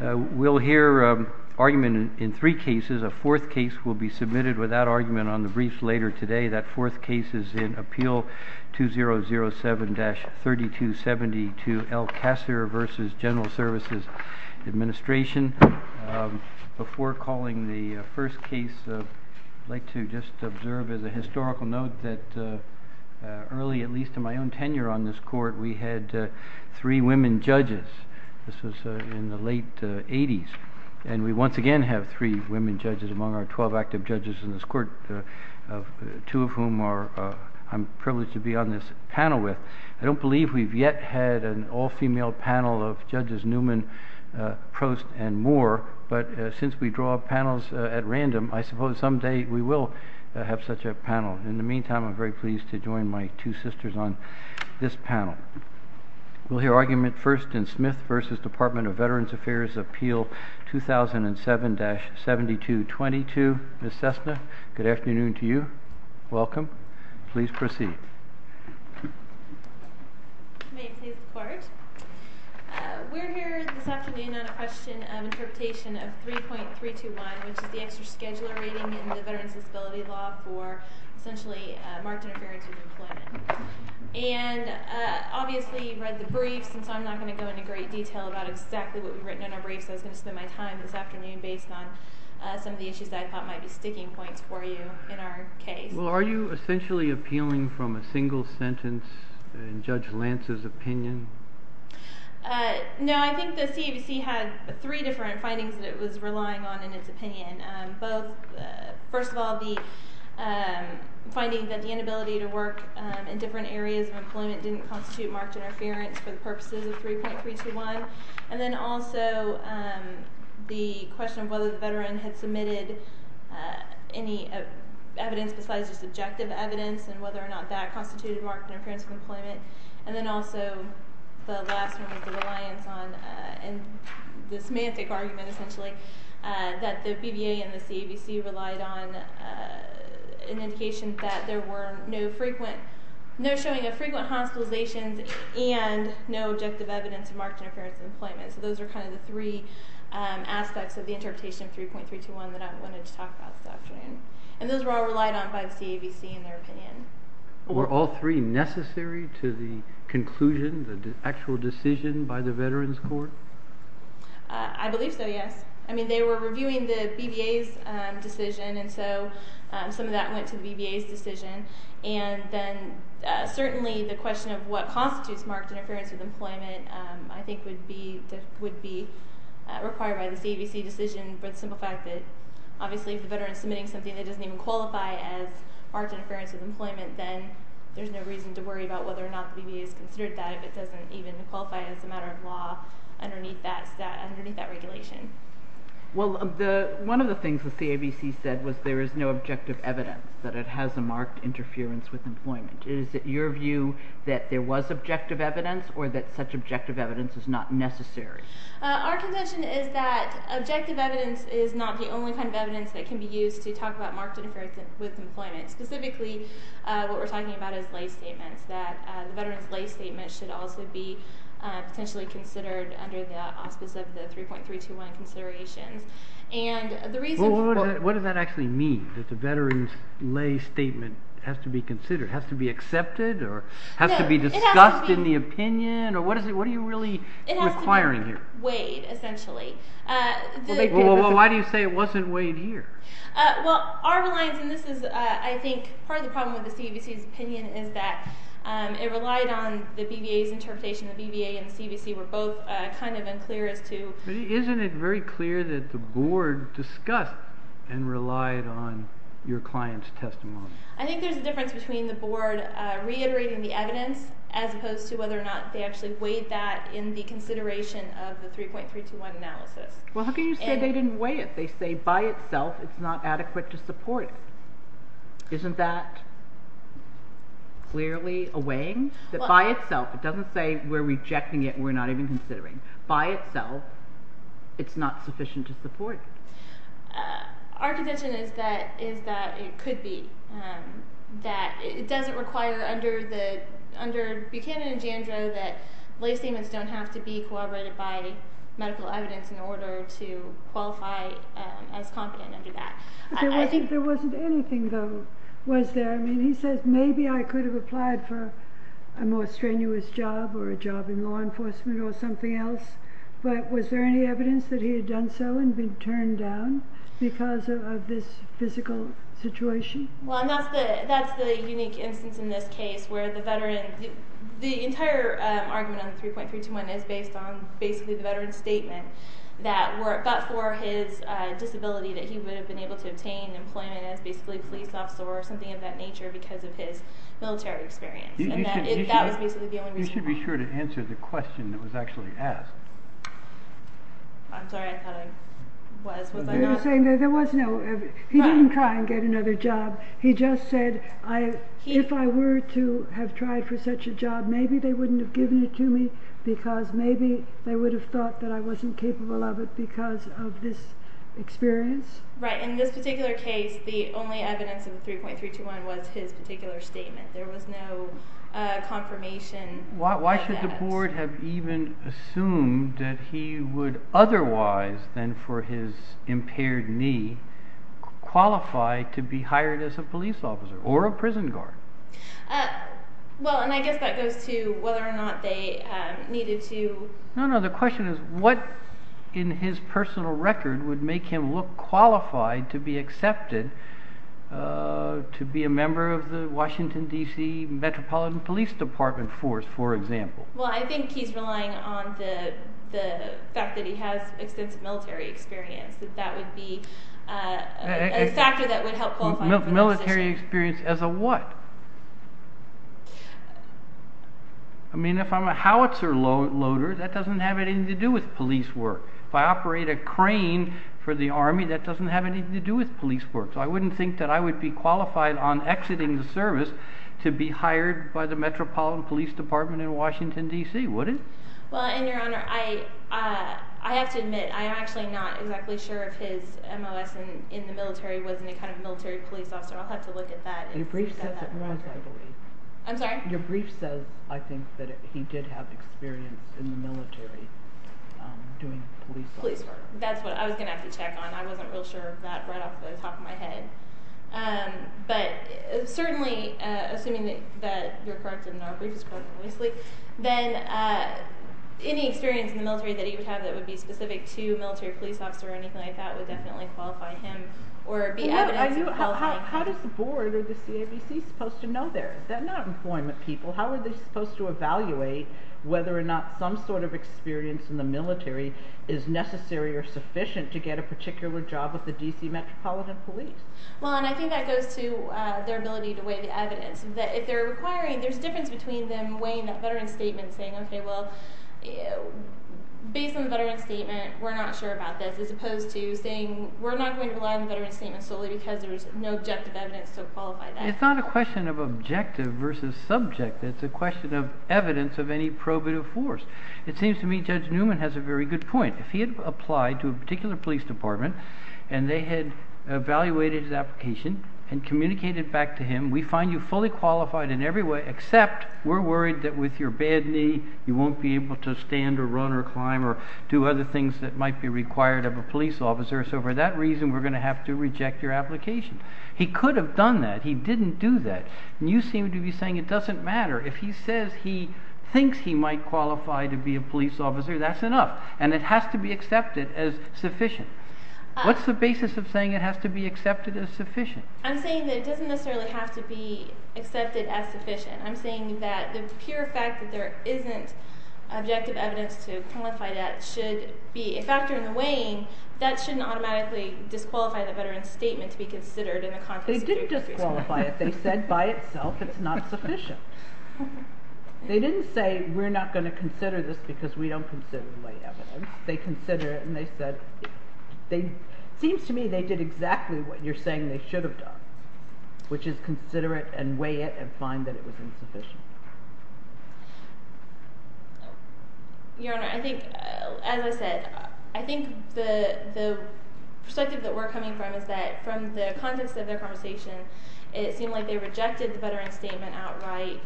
We'll hear argument in three cases. A fourth case will be submitted without argument on the briefs later today. That fourth case is in Appeal 2007-3272, El-Kassir v. General Services Administration. Before calling the first case, I'd like to just observe as a historical note that early, at least in my own tenure on this court, we had three women judges. This was in the late 80s. And we once again have three women judges among our twelve active judges in this court, two of whom I'm privileged to be on this panel with. I don't believe we've yet had an all-female panel of Judges Newman, Prost, and Moore, but since we draw panels at random, I suppose someday we will have such a panel. In the meantime, I'm very pleased to join my two sisters on this panel. We'll hear argument first in Smith v. Department of Veterans Affairs, Appeal 2007-7222. Ms. Cessna, good afternoon to you. Welcome. Please proceed. May it please the Court. We're here this afternoon on a question of interpretation of 3.321, which is the extra scheduler rating in the Veterans Disability Law for essentially marked interference with employment. And obviously you've read the briefs, and so I'm not going to go into great detail about exactly what we've written in our briefs. I was going to spend my time this afternoon based on some of the issues that I thought might be sticking points for you in our case. Well, are you essentially appealing from a single sentence in Judge Lance's opinion? No, I think the CABC had three different findings that it was relying on in its opinion. First of all, the finding that the inability to work in different areas of employment didn't constitute marked interference for the purposes of 3.321. And then also the question of whether the veteran had submitted any evidence besides just objective evidence and whether or not that constituted marked interference with employment. And then also the last one was the reliance on the semantic argument, essentially, that the BVA and the CABC relied on an indication that there were no showing of frequent hospitalizations and no objective evidence of marked interference in employment. So those are kind of the three aspects of the interpretation of 3.321 that I wanted to talk about this afternoon. And those were all relied on by the CABC in their opinion. Were all three necessary to the conclusion, the actual decision by the Veterans Court? I believe so, yes. I mean, they were reviewing the BVA's decision, and so some of that went to the BVA's decision. And then certainly the question of what constitutes marked interference with employment I think would be required by the CABC decision for the simple fact that obviously if the veteran is submitting something that doesn't even qualify as marked interference with employment, then there's no reason to worry about whether or not the BVA has considered that if it doesn't even qualify as a matter of law underneath that regulation. Well, one of the things that the CABC said was there is no objective evidence that it has a marked interference with employment. Is it your view that there was objective evidence or that such objective evidence is not necessary? Our contention is that objective evidence is not the only kind of evidence that can be used to talk about marked interference with employment. Specifically, what we're talking about is lay statements, that the veteran's lay statement should also be potentially considered under the auspice of the 3.321 considerations. What does that actually mean, that the veteran's lay statement has to be considered, has to be accepted, or has to be discussed in the opinion? What are you really requiring here? It has to be weighed, essentially. Well, why do you say it wasn't weighed here? Well, our reliance, and this is, I think, part of the problem with the CABC's opinion, is that it relied on the BVA's interpretation. The BVA and the CABC were both kind of unclear as to... Isn't it very clear that the Board discussed and relied on your client's testimony? I think there's a difference between the Board reiterating the evidence, as opposed to whether or not they actually weighed that in the consideration of the 3.321 analysis. Well, how can you say they didn't weigh it? They say, by itself, it's not adequate to support it. Isn't that clearly a weighing? By itself, it doesn't say we're rejecting it and we're not even considering it. By itself, it's not sufficient to support it. Our contention is that it could be. It doesn't require under Buchanan and Jandro that lay statements don't have to be corroborated by medical evidence in order to qualify as compliant under that. There wasn't anything, though, was there? I mean, he says, maybe I could have applied for a more strenuous job or a job in law enforcement or something else, but was there any evidence that he had done so and been turned down because of this physical situation? Well, that's the unique instance in this case where the veteran... The entire argument on 3.321 is based on basically the veteran's statement that for his disability that he would have been able to obtain employment as basically a police officer or something of that nature because of his military experience, and that was basically the only reason why. You should be sure to answer the question that was actually asked. I'm sorry, I thought I was. You're saying that there was no... He didn't try and get another job. He just said, if I were to have tried for such a job, maybe they wouldn't have given it to me because maybe they would have thought that I wasn't capable of it because of this experience? Right. In this particular case, the only evidence in 3.321 was his particular statement. There was no confirmation of that. Why should the board have even assumed that he would otherwise, then for his impaired knee, qualify to be hired as a police officer or a prison guard? Well, and I guess that goes to whether or not they needed to... No, no, the question is what in his personal record would make him look qualified to be accepted to be a member of the Washington, D.C. Metropolitan Police Department force, for example? Well, I think he's relying on the fact that he has extensive military experience, that that would be a factor that would help qualify him for that position. Military experience as a what? I mean, if I'm a howitzer loader, that doesn't have anything to do with police work. If I operate a crane for the Army, that doesn't have anything to do with police work. So I wouldn't think that I would be qualified on exiting the service to be hired by the Metropolitan Police Department in Washington, D.C., would it? Well, and Your Honor, I have to admit, I'm actually not exactly sure if his MOS in the military was any kind of military police officer. I'll have to look at that. Your brief says it was, I believe. I'm sorry? Your brief says, I think, that he did have experience in the military doing police work. Police work. That's what I was going to have to check on. I wasn't real sure of that right off the top of my head. But certainly, assuming that your part in our brief is quite obviously, then any experience in the military that he would have that would be specific to military police officer or anything like that would definitely qualify him or be evidence of qualifying him. How does the board or the CABC supposed to know there? Is that not employment people? How are they supposed to evaluate whether or not some sort of experience in the military is necessary or sufficient to get a particular job with the D.C. Metropolitan Police? Well, and I think that goes to their ability to weigh the evidence. If they're requiring, there's a difference between them weighing that veteran's statement and saying, okay, well, based on the veteran's statement, we're not sure about this, as opposed to saying we're not going to rely on the veteran's statement solely because there's no objective evidence to qualify that. It's not a question of objective versus subject. It's a question of evidence of any probative force. It seems to me Judge Newman has a very good point. If he had applied to a particular police department and they had evaluated his application and communicated back to him, we find you fully qualified in every way, except we're worried that with your bad knee you won't be able to stand or run or climb or do other things that might be required of a police officer, so for that reason we're going to have to reject your application. He could have done that. He didn't do that. And you seem to be saying it doesn't matter. If he says he thinks he might qualify to be a police officer, that's enough, and it has to be accepted as sufficient. What's the basis of saying it has to be accepted as sufficient? I'm saying that it doesn't necessarily have to be accepted as sufficient. I'm saying that the pure fact that there isn't objective evidence to qualify that should be a factor in the weighing that shouldn't automatically disqualify the veteran's statement to be considered in the context of your case. They did disqualify it. They said by itself it's not sufficient. They didn't say we're not going to consider this because we don't consider the evidence. They considered it and they said, it seems to me they did exactly what you're saying they should have done, which is consider it and weigh it and find that it was insufficient. Your Honor, I think, as I said, I think the perspective that we're coming from is that from the context of their conversation, it seemed like they rejected the veteran's statement outright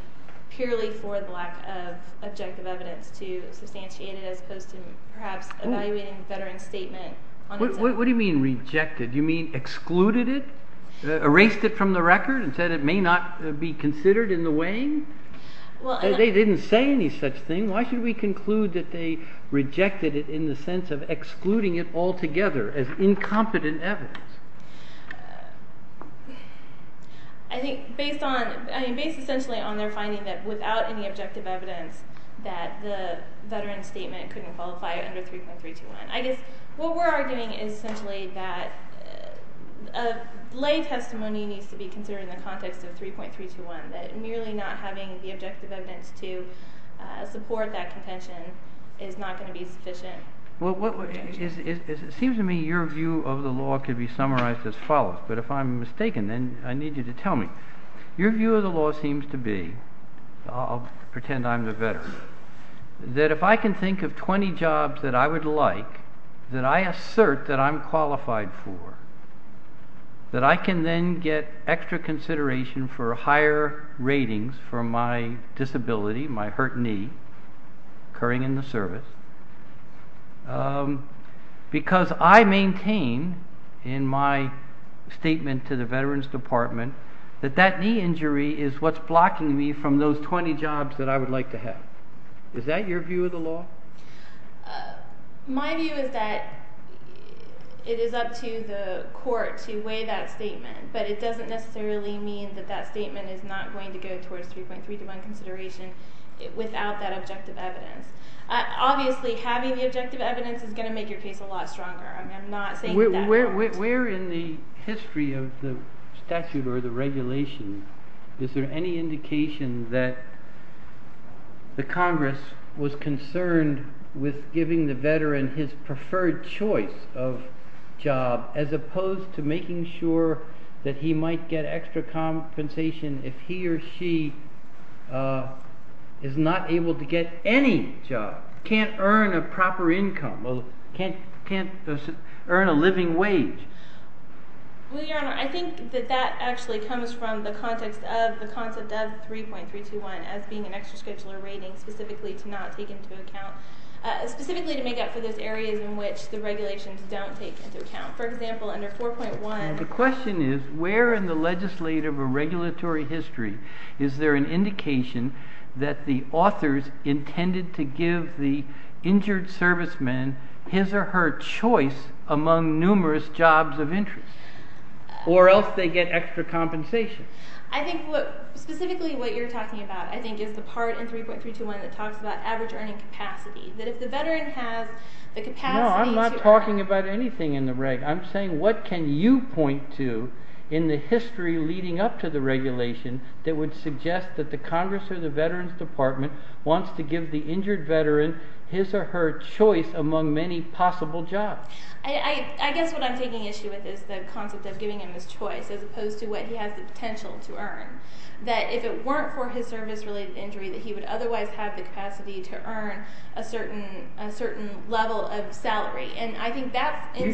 purely for the lack of objective evidence to substantiate it as opposed to perhaps evaluating the veteran's statement on its own. What do you mean rejected? Do you mean excluded it? Erased it from the record and said it may not be considered in the weighing? They didn't say any such thing. Why should we conclude that they rejected it in the sense of excluding it altogether as incompetent evidence? I think based essentially on their finding that without any objective evidence that the veteran's statement couldn't qualify under 3.321. I guess what we're arguing is essentially that a lay testimony needs to be considered in the context of 3.321, that merely not having the objective evidence to support that contention is not going to be sufficient. It seems to me your view of the law could be summarized as follows, but if I'm mistaken, then I need you to tell me. Your view of the law seems to be, I'll pretend I'm the veteran, that if I can think of 20 jobs that I would like that I assert that I'm qualified for, that I can then get extra consideration for higher ratings for my disability, my hurt knee, occurring in the service, because I maintain in my statement to the Veterans Department that that knee injury is what's blocking me from those 20 jobs that I would like to have. Is that your view of the law? My view is that it is up to the court to weigh that statement, but it doesn't necessarily mean that that statement is not going to go towards 3.321 consideration without that objective evidence. Obviously, having the objective evidence is going to make your case a lot stronger. I'm not saying that that won't. Where in the history of the statute or the regulation is there any indication that the Congress was concerned with giving the veteran his preferred choice of job, as opposed to making sure that he might get extra compensation if he or she is not able to get any job, can't earn a proper income, or can't earn a living wage? Well, Your Honor, I think that that actually comes from the context of the concept of 3.321 as being an extra scheduler rating specifically to make up for those areas in which the regulations don't take into account. For example, under 4.1... The question is, where in the legislative or regulatory history is there an indication that the authors intended to give the injured servicemen his or her choice among numerous jobs of interest, or else they get extra compensation? I think specifically what you're talking about, I think, is the part in 3.321 that talks about average earning capacity, that if the veteran has the capacity to earn... No, I'm not talking about anything in the reg. I'm saying what can you point to in the history leading up to the regulation that would suggest that the Congress or the Veterans Department wants to give the injured veteran his or her choice among many possible jobs? I guess what I'm taking issue with is the concept of giving him his choice, as opposed to what he has the potential to earn. That if it weren't for his service-related injury, that he would otherwise have the capacity to earn a certain level of salary.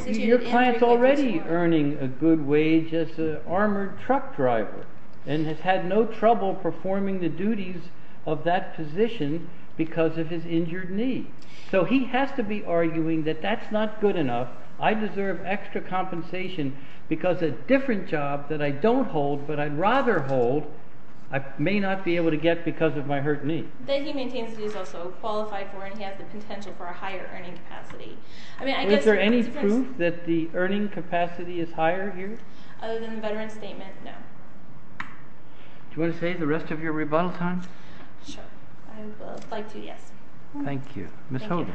Your client's already earning a good wage as an armored truck driver and has had no trouble performing the duties of that position because of his injured knee. So he has to be arguing that that's not good enough, I deserve extra compensation because a different job that I don't hold, but I'd rather hold, I may not be able to get because of my hurt knee. That he maintains that he's also qualified for and he has the potential for a higher earning capacity. Is there any proof that the earning capacity is higher here? Other than the veteran's statement, no. Do you want to save the rest of your rebuttal time? Sure. I would like to, yes. Thank you. Ms. Holder.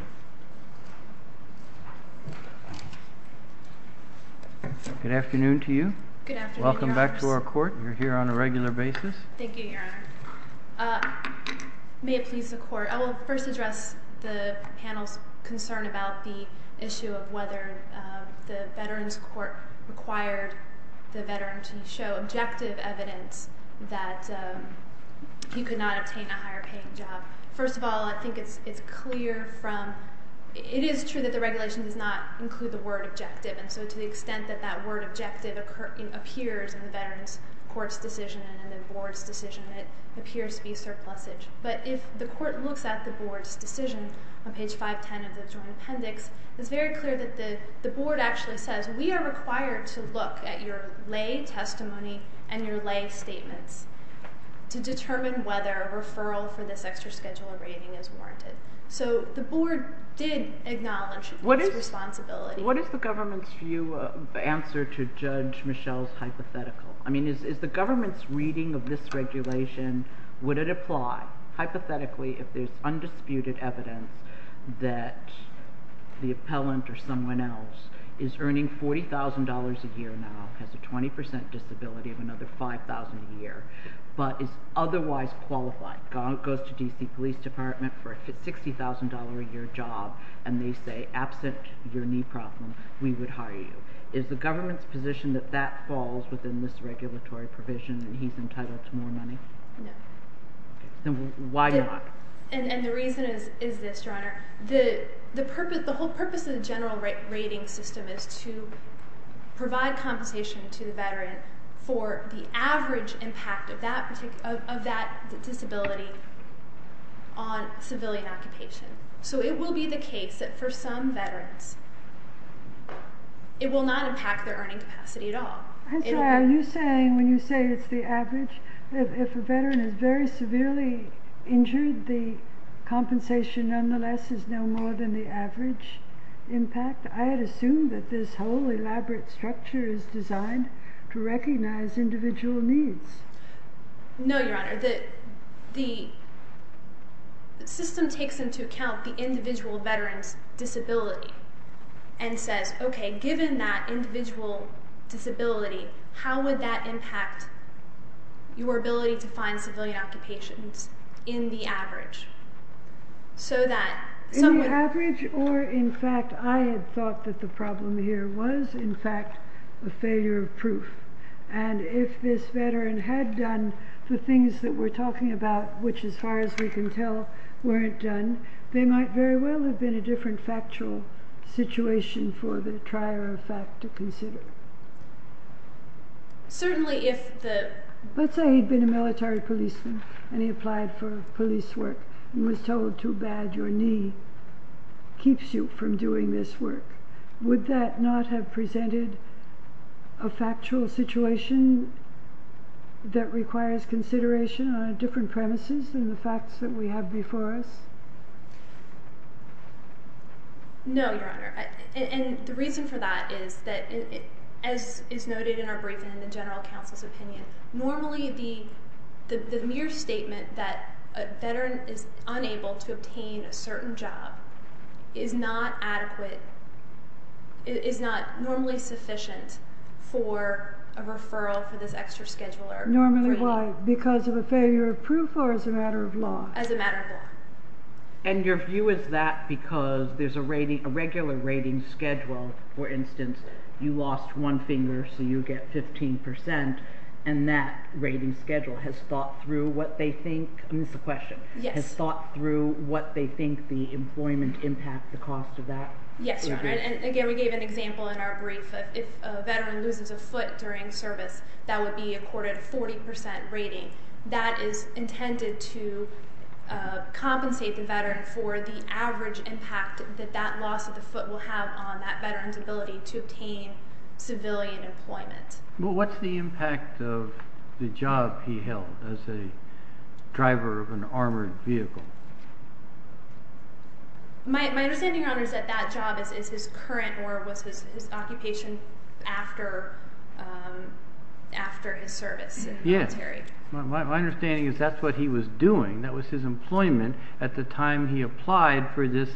Good afternoon to you. Good afternoon, Your Honor. Welcome back to our court. You're here on a regular basis. Thank you, Your Honor. May it please the Court, I will first address the panel's concern about the issue of whether the Veterans Court required the veteran to show objective evidence that he could not obtain a higher paying job. First of all, I think it's clear from, it is true that the regulation does not include the word objective, and so to the extent that that word objective appears in the Veterans Court's decision and the board's decision, it appears to be surplusage. But if the court looks at the board's decision on page 510 of the joint appendix, it's very clear that the board actually says, we are required to look at your lay testimony and your lay statements to determine whether a referral for this extra schedule of rating is warranted. So the board did acknowledge this responsibility. What is the government's view, answer to Judge Michelle's hypothetical? I mean, is the government's reading of this regulation, would it apply hypothetically if there's undisputed evidence that the appellant or someone else is earning $40,000 a year now, has a 20% disability of another $5,000 a year, but is otherwise qualified, goes to D.C. Police Department for a $60,000 a year job, and they say, absent your knee problem, we would hire you. Is the government's position that that falls within this regulatory provision and he's entitled to more money? No. Then why not? And the reason is this, Your Honor. The whole purpose of the general rating system is to provide compensation to the veteran for the average impact of that disability on civilian occupation. So it will be the case that for some veterans, it will not impact their earning capacity at all. And so are you saying when you say it's the average, if a veteran is very severely injured, the compensation nonetheless is no more than the average impact? I had assumed that this whole elaborate structure is designed to recognize individual needs. No, Your Honor. The system takes into account the individual veteran's disability and says, okay, given that individual disability, how would that impact your ability to find civilian occupations in the average? In the average, or in fact, I had thought that the problem here was in fact a failure of proof. And if this veteran had done the things that we're talking about, which as far as we can tell weren't done, they might very well have been a different factual situation for the trier of fact to consider. Certainly if the... Let's say he'd been a military policeman and he applied for police work and was told too bad your knee keeps you from doing this work. Would that not have presented a factual situation that requires consideration on different premises than the facts that we have before us? No, Your Honor. And the reason for that is that, as is noted in our briefing and the general counsel's opinion, normally the mere statement that a veteran is unable to obtain a certain job is not adequate, is not normally sufficient for a referral for this extra scheduler. Normally why? Because of a failure of proof or as a matter of law? As a matter of law. And your view is that because there's a regular rating schedule, for instance, you lost one finger so you get 15%, and that rating schedule has thought through what they think, and this is a question, has thought through what they think the employment impact, the cost of that? Yes, Your Honor. And again, we gave an example in our brief that if a veteran loses a foot during service, that would be accorded a 40% rating. That is intended to compensate the veteran for the average impact that that loss of the foot will have on that veteran's ability to obtain civilian employment. Well, what's the impact of the job he held as a driver of an armored vehicle? My understanding, Your Honor, is that that job is his current or was his occupation after his service in the military. My understanding is that's what he was doing. That was his employment at the time he applied for this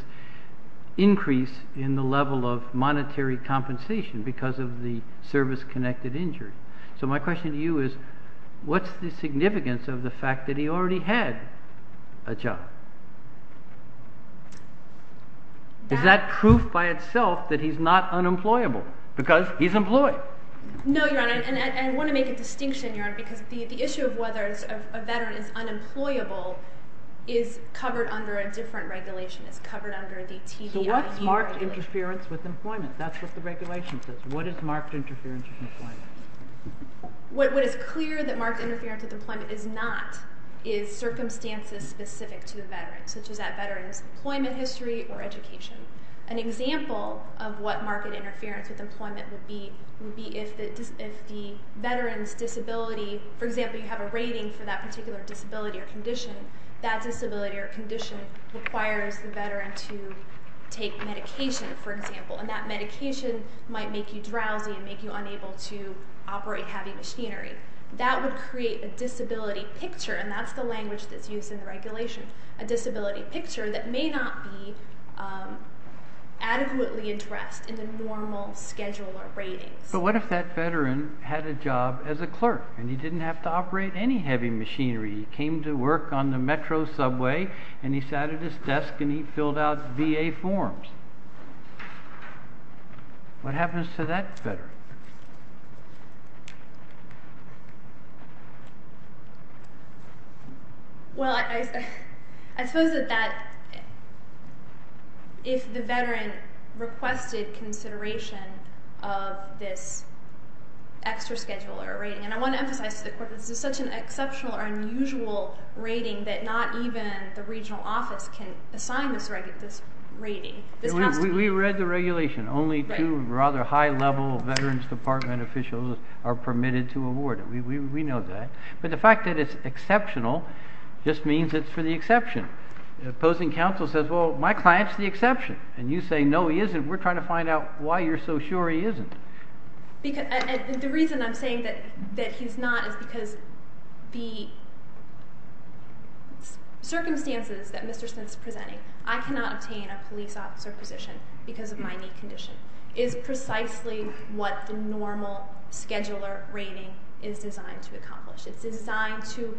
increase in the level of monetary compensation because of the service-connected injury. So my question to you is what's the significance of the fact that he already had a job? Is that proof by itself that he's not unemployable? Because he's employed. No, Your Honor, and I want to make a distinction, Your Honor, because the issue of whether a veteran is unemployable is covered under a different regulation. It's covered under the TBIE regulation. So what's marked interference with employment? That's what the regulation says. What is marked interference with employment? What is clear that marked interference with employment is not is circumstances specific to the veteran, such as that veteran's employment history or education. An example of what marked interference with employment would be would be if the veteran's disability, for example, you have a rating for that particular disability or condition, that disability or condition requires the veteran to take medication, for example, and that medication might make you drowsy and make you unable to operate heavy machinery. That would create a disability picture, and that's the language that's used in the regulation, a disability picture that may not be adequately addressed in the normal schedule or ratings. But what if that veteran had a job as a clerk and he didn't have to operate any heavy machinery? He came to work on the metro subway and he sat at his desk and he filled out VA forms? What happens to that veteran? Well, I suppose that if the veteran requested consideration of this extra schedule or rating, and I want to emphasize this is such an exceptional or unusual rating that not even the regional office can assign this rating. We read the regulation. Only two rather high-level Veterans Department officials are permitted to award it. We know that. But the fact that it's exceptional just means it's for the exception. The opposing counsel says, well, my client's the exception. And you say, no, he isn't. We're trying to find out why you're so sure he isn't. The reason I'm saying that he's not is because the circumstances that Mr. Smith's presenting, I cannot obtain a police officer position because of my knee condition, is precisely what the normal scheduler rating is designed to accomplish. It's designed to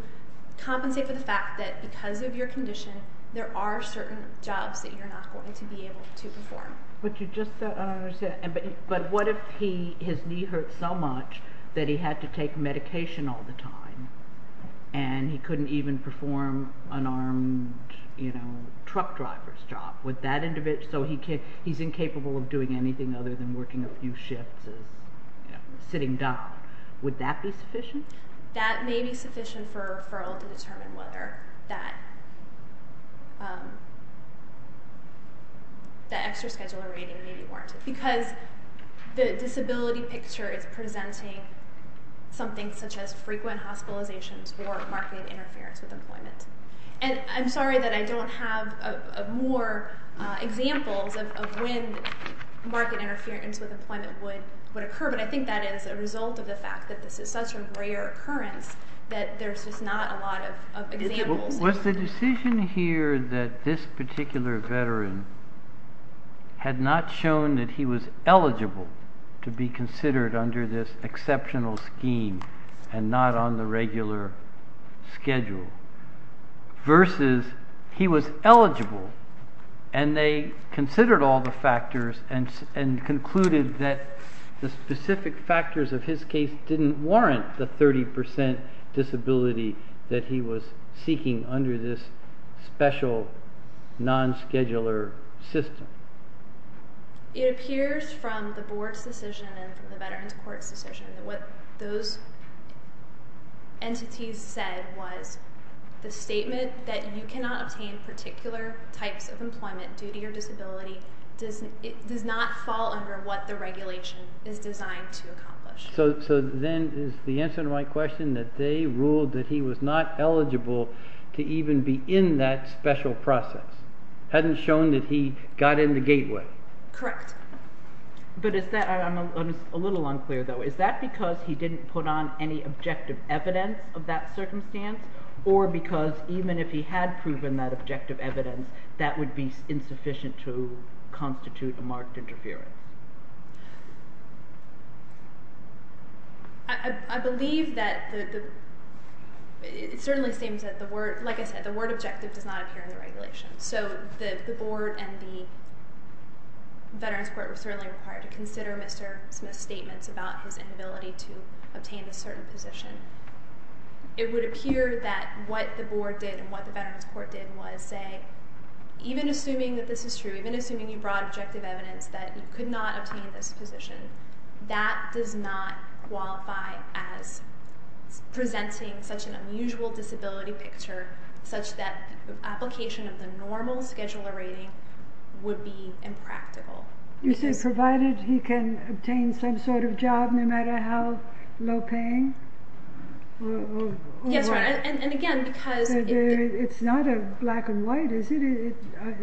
compensate for the fact that because of your condition, there are certain jobs that you're not going to be able to perform. But what if his knee hurt so much that he had to take medication all the time and he couldn't even perform an armed truck driver's job? So he's incapable of doing anything other than working a few shifts, sitting down. Would that be sufficient? That may be sufficient for a referral to determine whether that extra scheduler rating may be warranted because the disability picture is presenting something such as frequent hospitalizations or marketing interference with employment. And I'm sorry that I don't have more examples of when marketing interference with employment would occur, but I think that is a result of the fact that this is such a rare occurrence that there's just not a lot of examples. Was the decision here that this particular veteran had not shown that he was eligible to be considered under this exceptional scheme and not on the regular schedule versus he was eligible and they considered all the factors and concluded that the specific factors of his case didn't warrant the 30% disability that he was seeking under this special non-scheduler system? It appears from the Board's decision and the Veterans Court's decision that what those entities said was the statement that you cannot obtain any particular types of employment due to your disability does not fall under what the regulation is designed to accomplish. So then is the answer to my question that they ruled that he was not eligible to even be in that special process? Hadn't shown that he got in the gateway? Correct. But I'm a little unclear, though. Is that because he didn't put on any objective evidence of that circumstance or because even if he had proven that objective evidence, that would be insufficient to constitute a marked interference? I believe that it certainly seems that, like I said, the word objective does not appear in the regulation. So the Board and the Veterans Court were certainly required to consider Mr. Smith's statements about his inability to obtain a certain position. It would appear that what the Board did and what the Veterans Court did was say, even assuming that this is true, even assuming you brought objective evidence that you could not obtain this position, that does not qualify as presenting such an unusual disability picture such that application of the normal scheduler rating would be impractical. You say provided he can obtain some sort of job no matter how low-paying? Yes, right. And again, because... It's not a black and white, is it?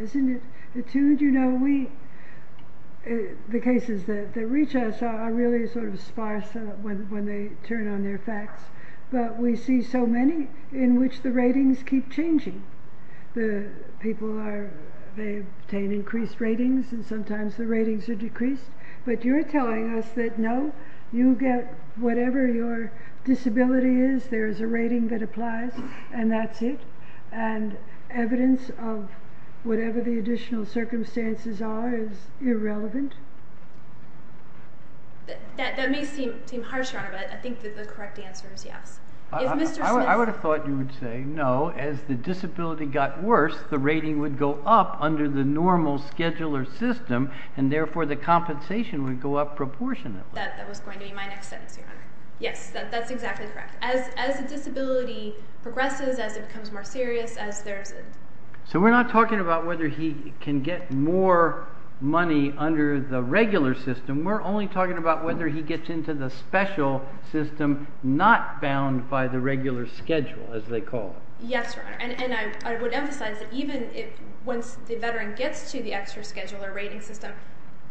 Isn't it attuned? You know, the cases that reach us are really sort of sparse when they turn on their facts. But we see so many in which the ratings keep changing. The people, they obtain increased ratings and sometimes the ratings are decreased. But you're telling us that, no, you get whatever your disability is, there is a rating that applies, and that's it, and evidence of whatever the additional circumstances are is irrelevant? That may seem harsh, Your Honor, but I think that the correct answer is yes. I would have thought you would say, no, as the disability got worse, the rating would go up under the normal scheduler system, and therefore the compensation would go up proportionately. That was going to be my next sentence, Your Honor. Yes, that's exactly correct. As a disability progresses, as it becomes more serious, as there's a... So we're not talking about whether he can get more money under the regular system. We're only talking about whether he gets into the special system not bound by the regular schedule, as they call it. Yes, Your Honor, and I would emphasize that even once the veteran gets to the extra scheduler rating system,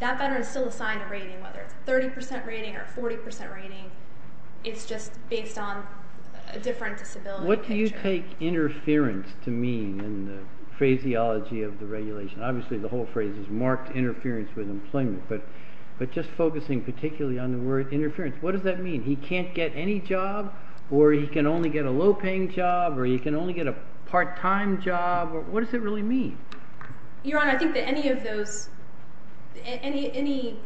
that veteran is still assigned a rating, whether it's a 30% rating or a 40% rating. It's just based on a different disability. What do you take interference to mean in the phraseology of the regulation? Obviously the whole phrase is marked interference with employment, but just focusing particularly on the word interference, what does that mean? He can't get any job, or he can only get a low-paying job, or he can only get a part-time job. What does it really mean? Your Honor, I think that any of those... any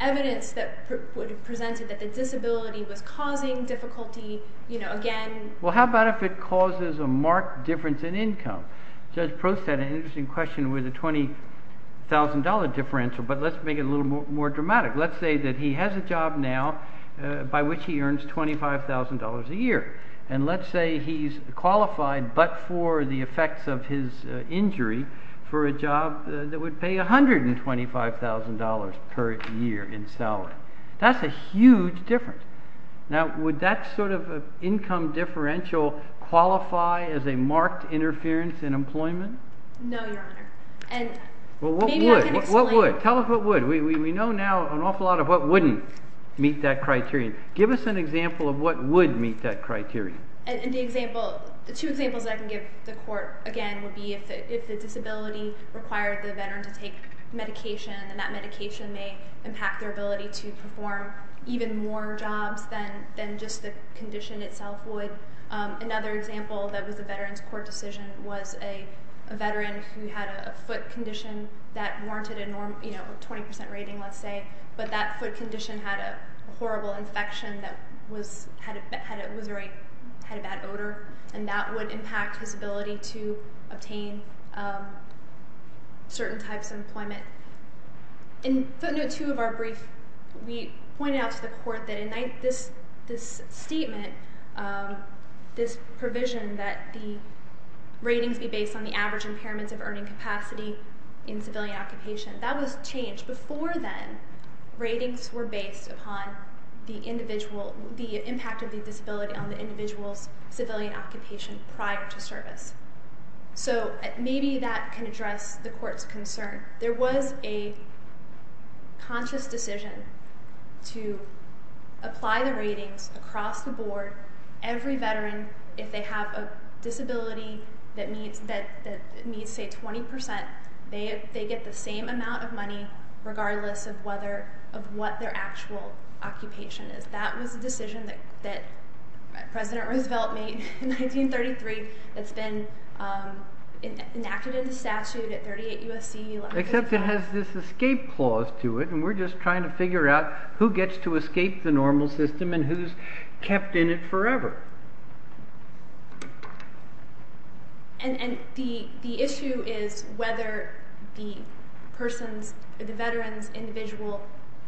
evidence that would have presented that the disability was causing difficulty, you know, again... Well, how about if it causes a marked difference in income? Judge Prost had an interesting question with a $20,000 difference, but let's make it a little more dramatic. Let's say that he has a job now by which he earns $25,000 a year, and let's say he's qualified but for the effects of his injury for a job that would pay $125,000 per year in salary. That's a huge difference. Now, would that sort of income differential qualify as a marked interference in employment? No, Your Honor. Well, what would? Tell us what would. We know now an awful lot of what wouldn't meet that criterion. Give us an example of what would meet that criterion. The two examples I can give the court, again, would be if the disability required the veteran to take medication, then that medication may impact their ability to perform even more jobs than just the condition itself would. Another example that was a veteran's court decision was a veteran who had a foot condition that warranted a 20% rating, let's say, but that foot condition had a horrible infection that had a bad odor, and that would impact his ability to obtain certain types of employment. In footnote 2 of our brief, we pointed out to the court that in this statement, this provision that the ratings be based on the average impairments of earning capacity in civilian occupation, that was changed before then. Ratings were based upon the impact of the disability on the individual's civilian occupation prior to service. So maybe that can address the court's concern. There was a conscious decision to apply the ratings across the board. Every veteran, if they have a disability that meets, say, 20%, they get the same amount of money regardless of what their actual occupation is. That was a decision that President Roosevelt made in 1933 that's been enacted into statute at 38 U.S.C. 1165. Except it has this escape clause to it, and we're just trying to figure out who gets to escape the normal system and who's kept in it forever. And the issue is whether the person's, the veteran's individual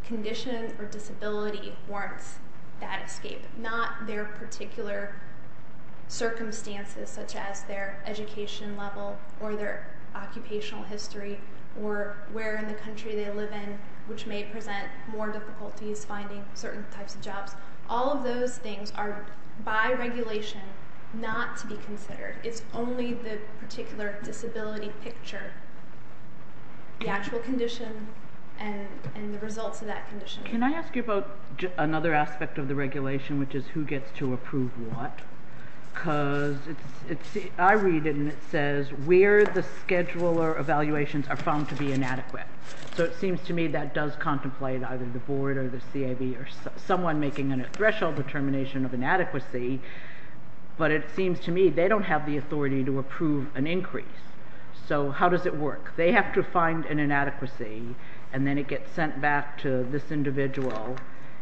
condition or disability warrants that escape, not their particular circumstances such as their education level or their occupational history or where in the country they live in, which may present more difficulties finding certain types of jobs. All of those things are by regulation not to be considered. It's only the particular disability picture, the actual condition and the results of that condition. Can I ask you about another aspect of the regulation, which is who gets to approve what? Because I read it and it says where the scheduler evaluations are found to be inadequate. So it seems to me that does contemplate either the board or the CAB or someone making a threshold determination of inadequacy, but it seems to me they don't have the authority to approve an increase. So how does it work? They have to find an inadequacy, and then it gets sent back to this individual.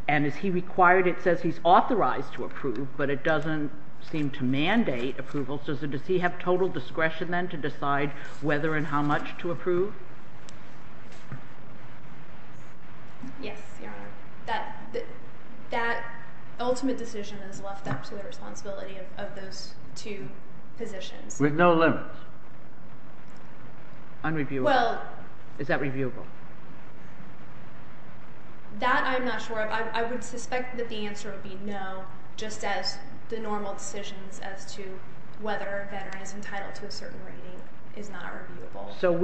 And is he required? It says he's authorized to approve, but it doesn't seem to mandate approval. So does he have total discretion then to decide whether and how much to approve? Yes, Your Honor. That ultimate decision is left up to the responsibility of those two positions. With no limits? Unreviewable? Is that reviewable? That I'm not sure of. I would suspect that the answer would be no, just as the normal decisions as to whether a veteran is entitled to a certain rating is not reviewable. So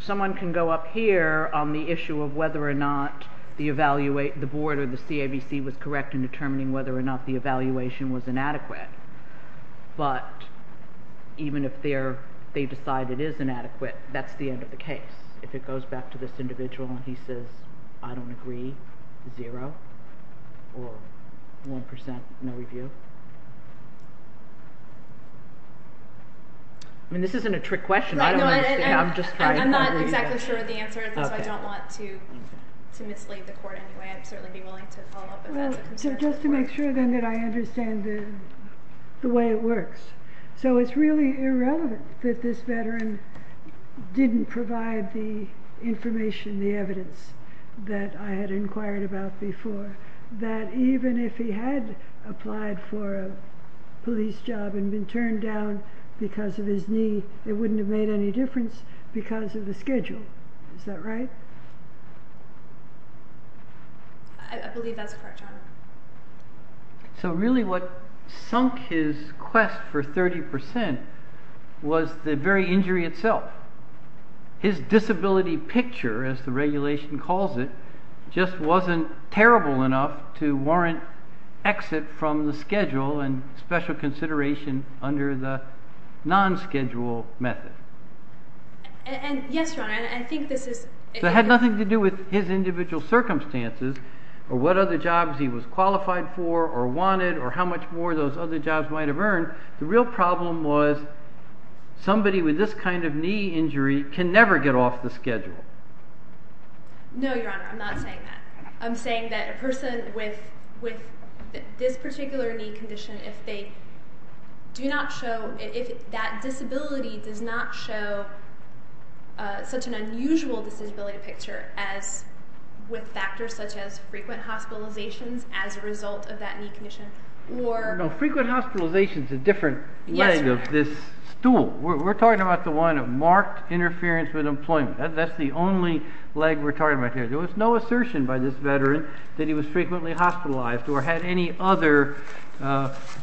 someone can go up here on the issue of whether or not the board or the CABC was correct in determining whether or not the evaluation was inadequate. But even if they decide it is inadequate, that's the end of the case. If it goes back to this individual and he says, I don't agree, zero, or 1%, no review. This isn't a trick question. I'm not exactly sure of the answer, so I don't want to mislead the court in any way. I'd certainly be willing to follow up if that's a concern. Just to make sure then that I understand the way it works. So it's really irrelevant that this veteran didn't provide the information, the evidence that I had inquired about before, that even if he had applied for a police job and been turned down because of his knee, it wouldn't have made any difference because of the schedule. Is that right? I believe that's correct, John. So really what sunk his quest for 30% was the very injury itself. His disability picture, as the regulation calls it, just wasn't terrible enough to warrant exit from the schedule and special consideration under the non-schedule method. Yes, John, I think this is... It had nothing to do with his individual circumstances or what other jobs he was qualified for or wanted or how much more those other jobs might have earned. The real problem was somebody with this kind of knee injury can never get off the schedule. No, Your Honor, I'm not saying that. I'm saying that a person with this particular knee condition, if that disability does not show such an unusual disability picture with factors such as frequent hospitalizations as a result of that knee condition or... No, frequent hospitalization is a different leg of this stool. We're talking about the one that marked interference with employment. That's the only leg we're talking about here. There was no assertion by this veteran that he was frequently hospitalized or had any other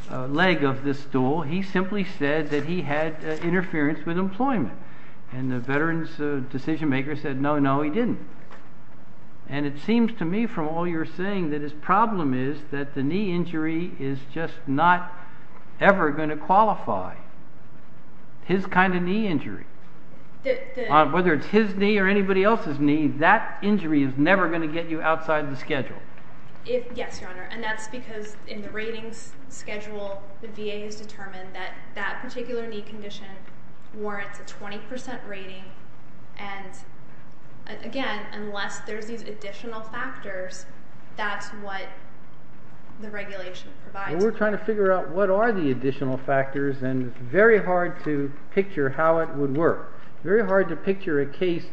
leg of this stool. He simply said that he had interference with employment. And the veteran's decision-maker said, no, no, he didn't. And it seems to me from all you're saying that his problem is that the knee injury is just not ever going to qualify. His kind of knee injury, whether it's his knee or anybody else's knee, that injury is never going to get you outside the schedule. Yes, Your Honor, and that's because in the ratings schedule, the VA has determined that that particular knee condition warrants a 20% rating. And again, unless there's these additional factors, that's what the regulation provides. We're trying to figure out what are the additional factors, and it's very hard to picture how it would work, very hard to picture a case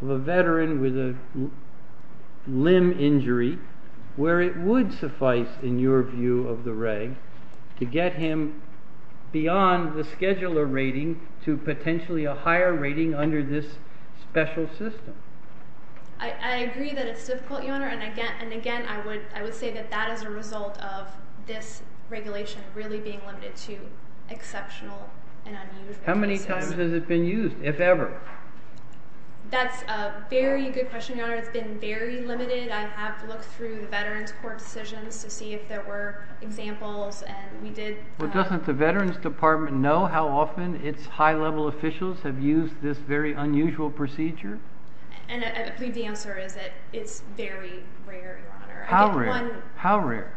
of a veteran with a limb injury where it would suffice in your view of the reg to get him beyond the scheduler rating to potentially a higher rating under this special system. I agree that it's difficult, Your Honor. And again, I would say that that is a result of this regulation really being limited to exceptional and unusual. How many times has it been used, if ever? That's a very good question, Your Honor. It's been very limited. I have looked through veterans' court decisions to see if there were examples. Well, doesn't the Veterans Department know how often its high-level officials have used this very unusual procedure? I believe the answer is that it's very rare, Your Honor. How rare? How rare?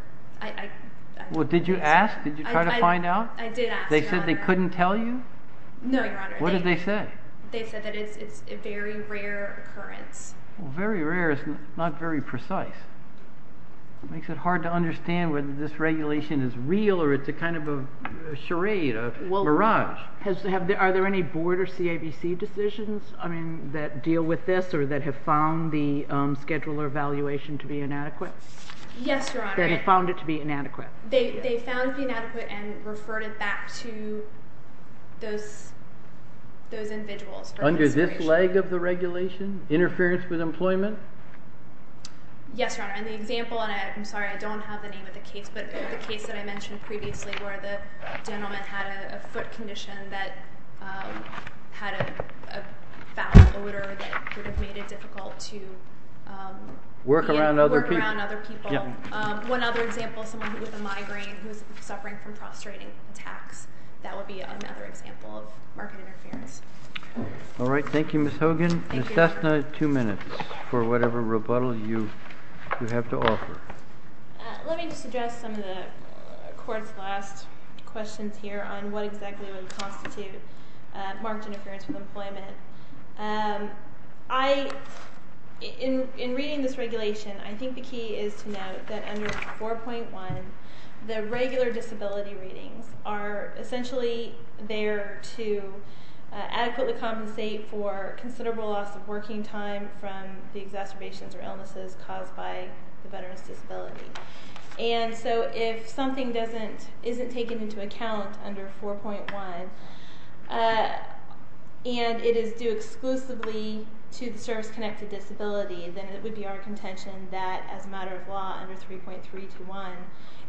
Well, did you ask? Did you try to find out? I did ask, Your Honor. They said they couldn't tell you? No, Your Honor. What did they say? They said that it's a very rare occurrence. Well, very rare is not very precise. It makes it hard to understand whether this regulation is real or it's a kind of a charade, a mirage. Are there any board or CAVC decisions that deal with this or that have found the scheduler evaluation to be inadequate? Yes, Your Honor. That have found it to be inadequate? They found it to be inadequate and referred it back to those individuals. Under this leg of the regulation, interference with employment? Yes, Your Honor. And the example, and I'm sorry, I don't have the name of the case, but the case that I mentioned previously where the gentleman had a foot condition that had a foul odor that would have made it difficult to work around other people. One other example, someone with a migraine who was suffering from prostrating attacks. That would be another example of market interference. All right. Thank you, Ms. Hogan. Ms. Dessner, two minutes for whatever rebuttal you have to offer. Let me just address some of the court's last questions here on what exactly would constitute market interference with employment. In reading this regulation, I think the key is to note that under 4.1, the regular disability readings are essentially there to adequately compensate for considerable loss of working time from the exacerbations or illnesses caused by the veteran's disability. And so if something isn't taken into account under 4.1 and it is due exclusively to the service-connected disability, then it would be our contention that, as a matter of law, under 3.321,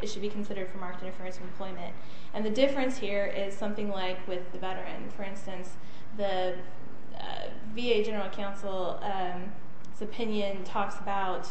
it should be considered for market interference with employment. And the difference here is something like with the veteran. For instance, the VA General Counsel's opinion talks about,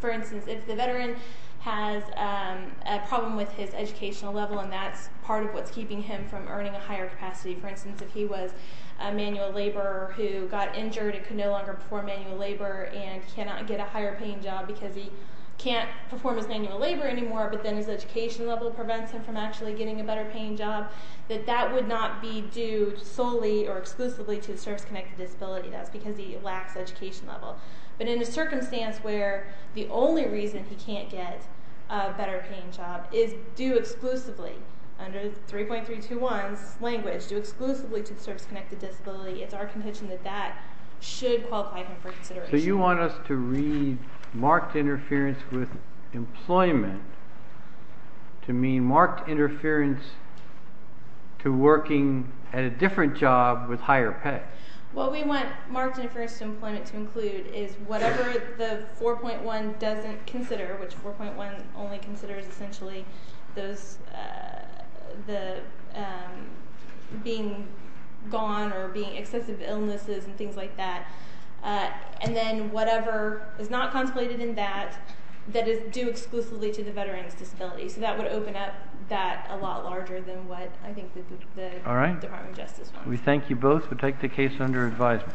for instance, if the veteran has a problem with his educational level and that's part of what's keeping him from earning a higher capacity. For instance, if he was a manual laborer who got injured and could no longer perform manual labor and cannot get a higher-paying job because he can't perform his manual labor anymore, but then his education level prevents him from actually getting a better-paying job, that that would not be due solely or exclusively to the service-connected disability. That's because he lacks education level. But in a circumstance where the only reason he can't get a better-paying job is due exclusively under 3.321's language, due exclusively to the service-connected disability, it's our contention that that should qualify him for consideration. So you want us to read marked interference with employment to mean marked interference to working at a different job with higher pay. What we want marked interference with employment to include is whatever the 4.1 doesn't consider, which 4.1 only considers essentially being gone or being excessive illnesses and things like that. And then whatever is not contemplated in that, that is due exclusively to the veteran's disability. So that would open up that a lot larger than what I think the Department of Justice would. We thank you both. We'll take the case under advisement.